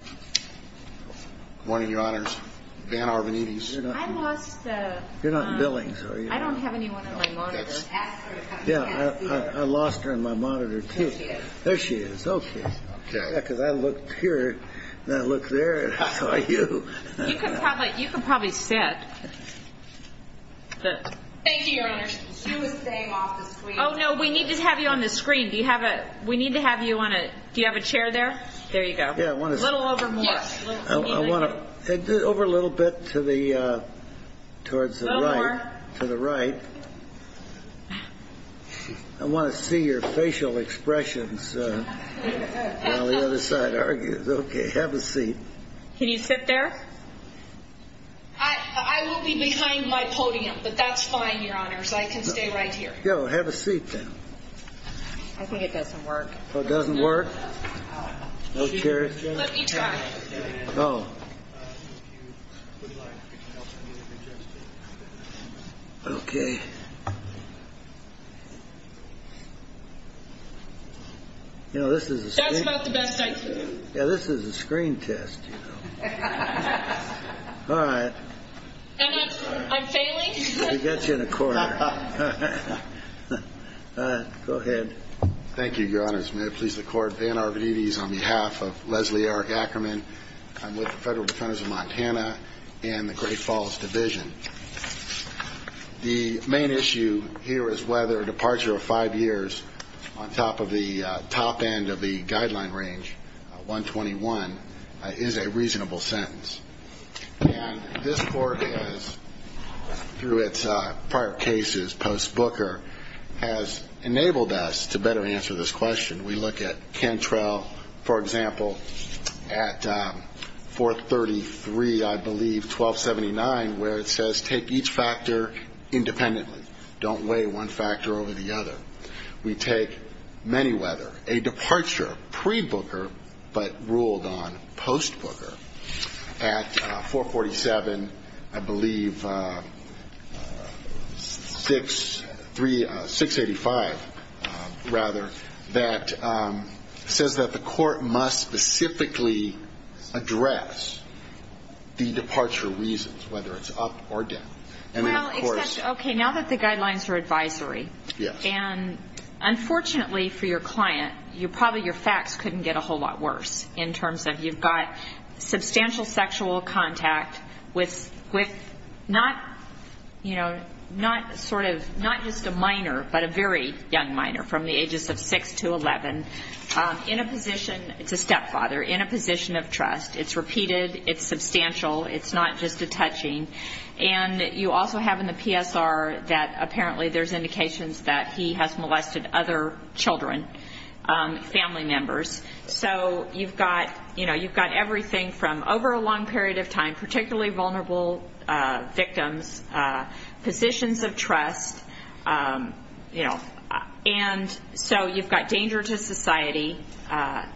Good morning, your honors. Dan Arvanites. I lost the... You're not in Billings, are you? I don't have anyone on my monitor. Yeah, I lost her on my monitor, too. There she is. There she is, okay. Yeah, because I looked here, and I looked there, and I saw you. You can probably sit. Thank you, your honors. She was staying off the screen. Oh, no, we need to have you on the screen. Do you have a... We need to have you on a... Do you have a chair there? There you go. Yeah, I want to... A little over more. I want to... Over a little bit to the... Towards the right. A little more. To the right. I want to see your facial expressions while the other side argues. Okay, have a seat. Can you sit there? I will be behind my podium, but that's fine, your honors. I can stay right here. Yeah, well, have a seat then. I think it doesn't work. Oh, it doesn't work? No chair? Let me try. Oh. Okay. You know, this is a... That's about the best I can do. Yeah, this is a screen test, you know. All right. I'm failing? We got you in a corner. Go ahead. Thank you, your honors. May it please the court. Van Arvanites on behalf of Leslie R. Ackerman. I'm with the Federal Defense of Montana and the Great Falls Division. The main issue here is whether a departure of five years on top of the top end of the guideline range, 121, is a reasonable sentence. And this court has, through its prior cases post-Booker, has enabled us to better answer this question. We look at Cantrell, for example, at 433, I believe, 1279, where it says take each factor independently. Don't weigh one factor over the other. We take Manyweather, a departure pre-Booker but ruled on post-Booker. At 447, I believe, 685, rather, that says that the court must specifically address the departure reasons, whether it's up or down. Well, except, okay, now that the guidelines are advisory. Yes. And unfortunately for your client, probably your facts couldn't get a whole lot worse in terms of you've got substantial sexual contact with not sort of, not just a minor, but a very young minor from the ages of 6 to 11 in a position, it's a stepfather, in a position of trust. It's repeated. It's substantial. It's not just a touching. And you also have in the PSR that apparently there's indications that he has molested other children, family members. So you've got, you know, you've got everything from over a long period of time, particularly vulnerable victims, positions of trust, you know. And so you've got danger to society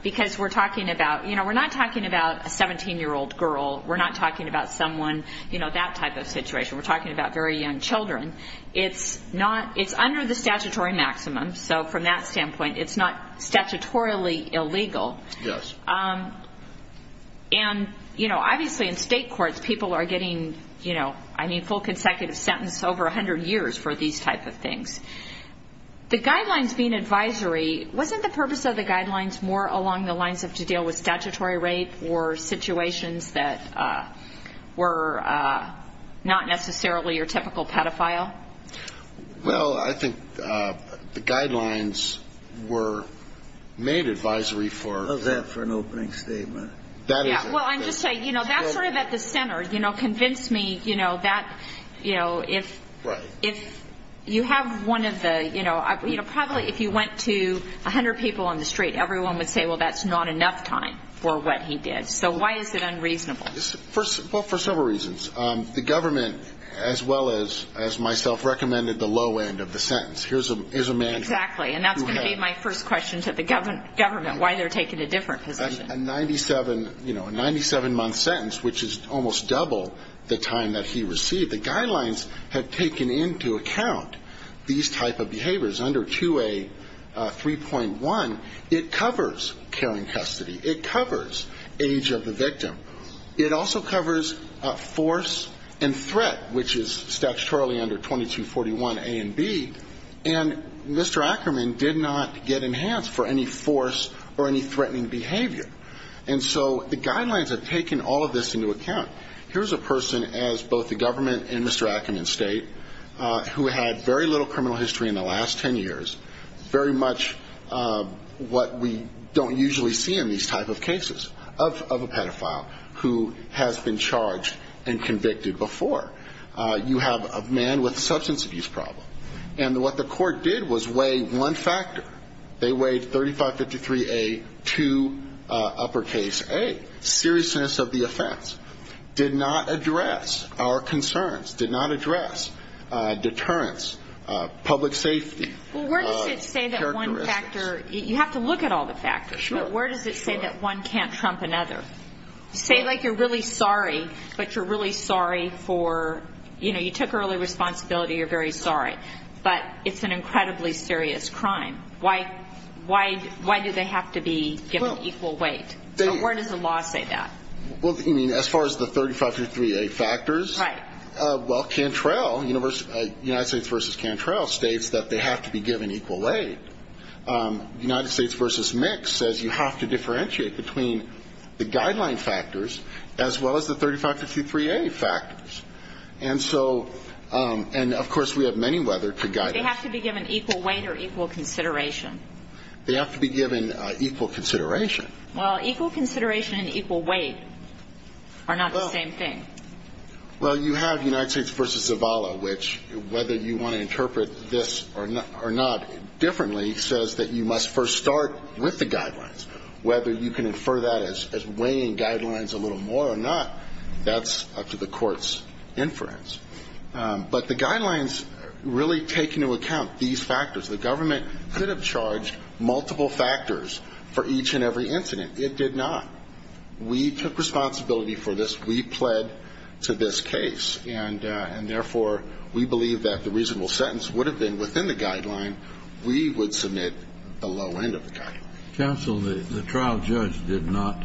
because we're talking about, you know, we're not talking about a 17-year-old girl. We're not talking about someone, you know, that type of situation. We're talking about very young children. It's not, it's under the statutory maximum. So from that standpoint, it's not statutorily illegal. Yes. And, you know, obviously in state courts people are getting, you know, I mean full consecutive sentence over 100 years for these type of things. The guidelines being advisory, wasn't the purpose of the guidelines more along the lines of to deal with statutory rape or situations that were not necessarily your typical pedophile? Well, I think the guidelines were made advisory for. How's that for an opening statement? Well, I'm just saying, you know, that's sort of at the center. You know, convince me, you know, that, you know, if you have one of the, you know, probably if you went to 100 people on the street, everyone would say, well, that's not enough time for what he did. So why is it unreasonable? Well, for several reasons. The government, as well as myself, recommended the low end of the sentence. Here's a man. Exactly. And that's going to be my first question to the government, why they're taking a different position. A 97-month sentence, which is almost double the time that he received. The guidelines have taken into account these type of behaviors. Under 2A3.1, it covers caring custody. It covers age of the victim. It also covers force and threat, which is statutorily under 2241A and B. And Mr. Ackerman did not get enhanced for any force or any threatening behavior. And so the guidelines have taken all of this into account. Here's a person, as both the government and Mr. Ackerman state, who had very little criminal history in the last ten years, very much what we don't usually see in these type of cases, of a pedophile who has been charged and convicted before. You have a man with a substance abuse problem. And what the court did was weigh one factor. They weighed 3553A to uppercase A, seriousness of the offense. Did not address our concerns. Did not address deterrence, public safety. Well, where does it say that one factor? You have to look at all the factors. But where does it say that one can't trump another? Say like you're really sorry, but you're really sorry for, you know, you took early responsibility, you're very sorry. But it's an incredibly serious crime. Why do they have to be given equal weight? Where does the law say that? Well, you mean as far as the 3553A factors? Right. Well, Cantrell, United States v. Cantrell, states that they have to be given equal weight. United States v. Mix says you have to differentiate between the guideline factors as well as the 3553A factors. And so, and of course we have many weather to guide us. They have to be given equal weight or equal consideration? They have to be given equal consideration. Well, equal consideration and equal weight are not the same thing. Well, you have United States v. Zavala, which whether you want to interpret this or not differently, says that you must first start with the guidelines. Whether you can infer that as weighing guidelines a little more or not, that's up to the court's inference. But the guidelines really take into account these factors. The government could have charged multiple factors for each and every incident. It did not. We took responsibility for this. We pled to this case. And therefore, we believe that the reasonable sentence would have been within the guideline. We would submit the low end of the guideline. Counsel, the trial judge did not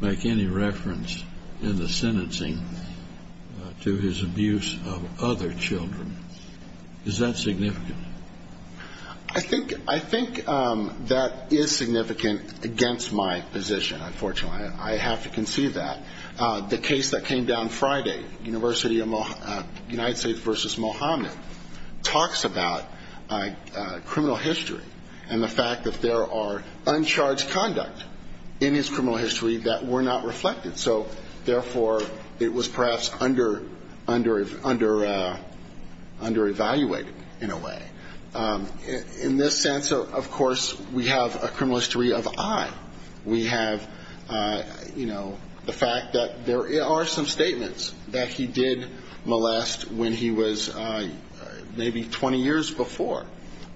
make any reference in the sentencing to his abuse of other children. Is that significant? I think that is significant against my position, unfortunately. I have to concede that. The case that came down Friday, United States v. Mohammad, talks about criminal history and the fact that there are uncharged conduct in his criminal history that were not reflected. So, therefore, it was perhaps under-evaluated in a way. In this sense, of course, we have a criminal history of I. We have, you know, the fact that there are some statements that he did molest when he was maybe 20 years before.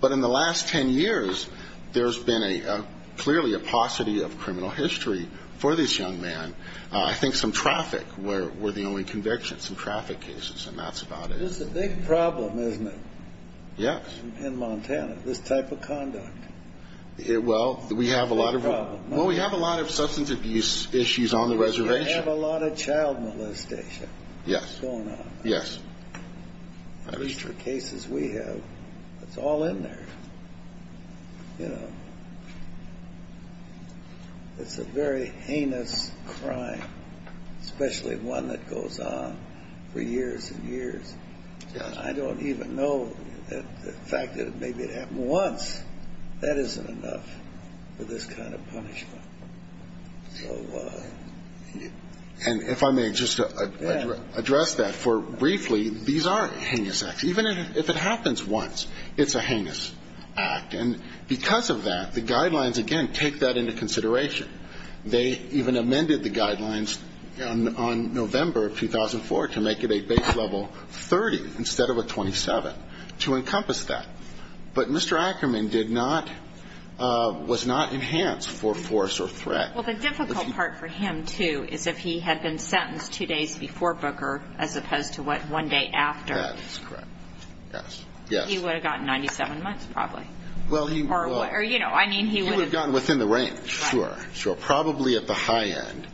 But in the last 10 years, there's been clearly a paucity of criminal history for this young man. I think some traffic were the only convictions in traffic cases, and that's about it. It's a big problem, isn't it? Yes. In Montana, this type of conduct. Well, we have a lot of substance abuse issues on the reservation. You have a lot of child molestation going on. Yes. The cases we have, it's all in there. You know, it's a very heinous crime, especially one that goes on for years and years. I don't even know the fact that maybe it happened once. That isn't enough for this kind of punishment. So, you know. And if I may just address that for briefly, these are heinous acts. Even if it happens once, it's a heinous act. And because of that, the guidelines, again, take that into consideration. They even amended the guidelines on November of 2004 to make it a base level 30 instead of a 27, to encompass that. But Mr. Ackerman did not, was not enhanced for force or threat. Well, the difficult part for him, too, is if he had been sentenced two days before Booker as opposed to, what, one day after. That is correct. Yes. He would have gotten 97 months probably. Or, you know, I mean, he would have. He would have gotten within the range. Sure. Sure. Probably at the high end.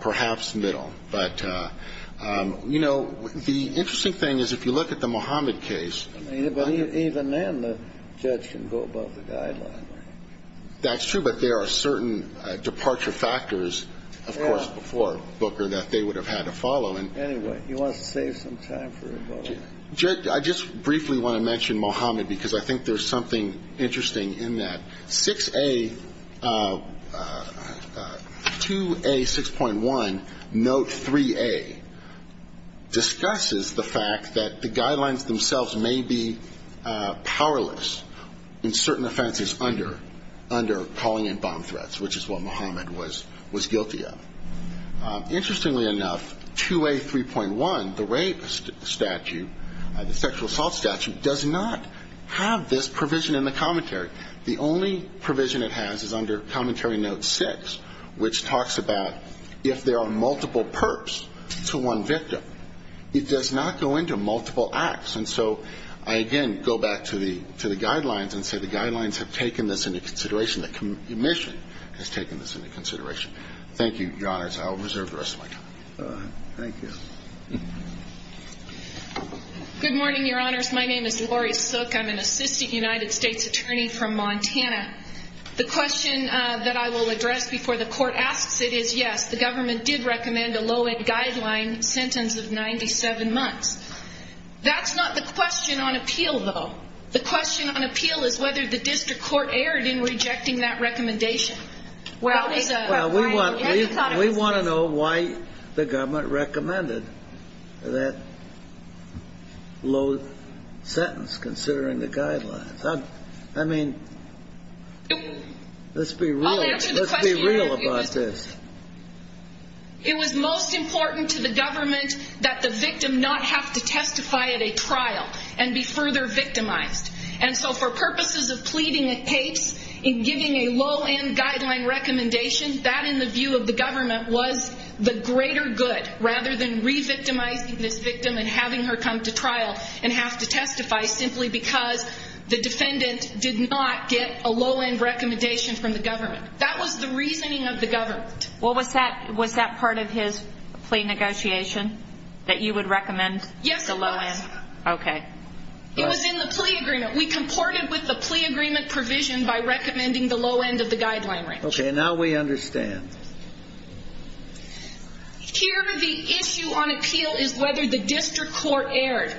Perhaps middle. But, you know, the interesting thing is if you look at the Mohammed case. But even then, the judge can go above the guideline. That's true. But there are certain departure factors, of course, before Booker that they would have had to follow. Anyway, you want to save some time for a vote. I just briefly want to mention Mohammed because I think there's something interesting in that. 6A, 2A, 6.1, note 3A discusses the fact that the guidelines themselves may be powerless in certain offenses under calling in bomb threats, which is what Mohammed was guilty of. Interestingly enough, 2A, 3.1, the rape statute, the sexual assault statute, does not have this provision in the commentary. The only provision it has is under Commentary Note 6, which talks about if there are multiple perps to one victim. It does not go into multiple acts. And so I, again, go back to the guidelines and say the guidelines have taken this into consideration. The commission has taken this into consideration. Thank you, Your Honors. I'll reserve the rest of my time. Thank you. Good morning, Your Honors. My name is Lori Sook. I'm an assistant United States attorney from Montana. The question that I will address before the court asks it is, yes, the government did recommend a low-end guideline sentence of 97 months. That's not the question on appeal, though. The question on appeal is whether the district court erred in rejecting that recommendation. Well, we want to know why the government recommended that low sentence, considering the guidelines. I mean, let's be real about this. It was most important to the government that the victim not have to testify at a trial and be further victimized. And so for purposes of pleading a case and giving a low-end guideline recommendation, that, in the view of the government, was the greater good, rather than re-victimizing this victim and having her come to trial and have to testify simply because the defendant did not get a low-end recommendation from the government. That was the reasoning of the government. Well, was that part of his plea negotiation, that you would recommend the low end? Yes, it was. Okay. It was in the plea agreement. We comported with the plea agreement provision by recommending the low end of the guideline range. Okay. Now we understand. Here, the issue on appeal is whether the district court erred.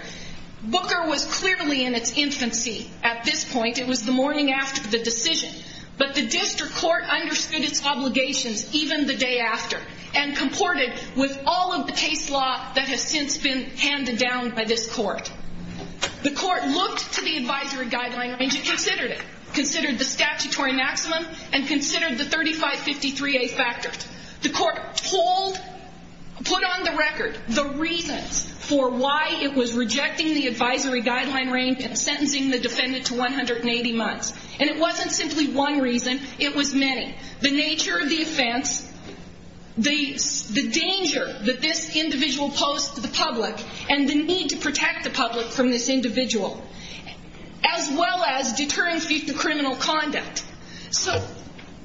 Booker was clearly in its infancy at this point. It was the morning after the decision. But the district court understood its obligations even the day after and comported with all of the case law that has since been handed down by this court. The court looked to the advisory guideline range and considered it, considered the statutory maximum and considered the 3553A factored. The court told, put on the record the reasons for why it was rejecting the advisory guideline range and sentencing the defendant to 180 months. And it wasn't simply one reason. It was many. The nature of the offense, the danger that this individual posed to the public, and the need to protect the public from this individual, as well as deterring thief to criminal conduct. So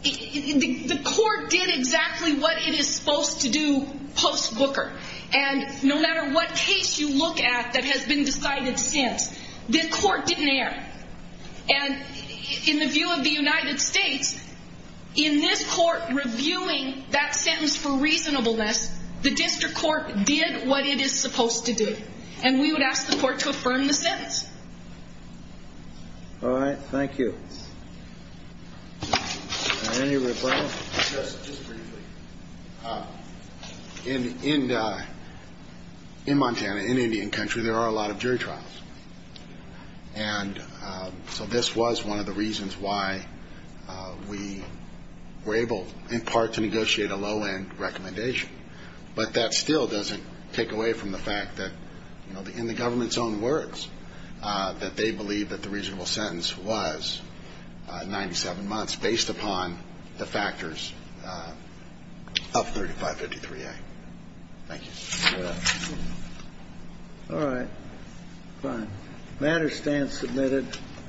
the court did exactly what it is supposed to do post Booker. And no matter what case you look at that has been decided since, the court didn't err. And in the view of the United States, in this court reviewing that sentence for reasonableness, the district court did what it is supposed to do. And we would ask the court to affirm the sentence. All right. Thank you. Any referral? Just briefly. In Montana, in Indian country, there are a lot of jury trials. And so this was one of the reasons why we were able, in part, to negotiate a low-end recommendation. But that still doesn't take away from the fact that, you know, in the government's own words, that they believe that the reasonable sentence was 97 months based upon the factors of 3553A. Thank you. All right. Fine. Matter stands submitted.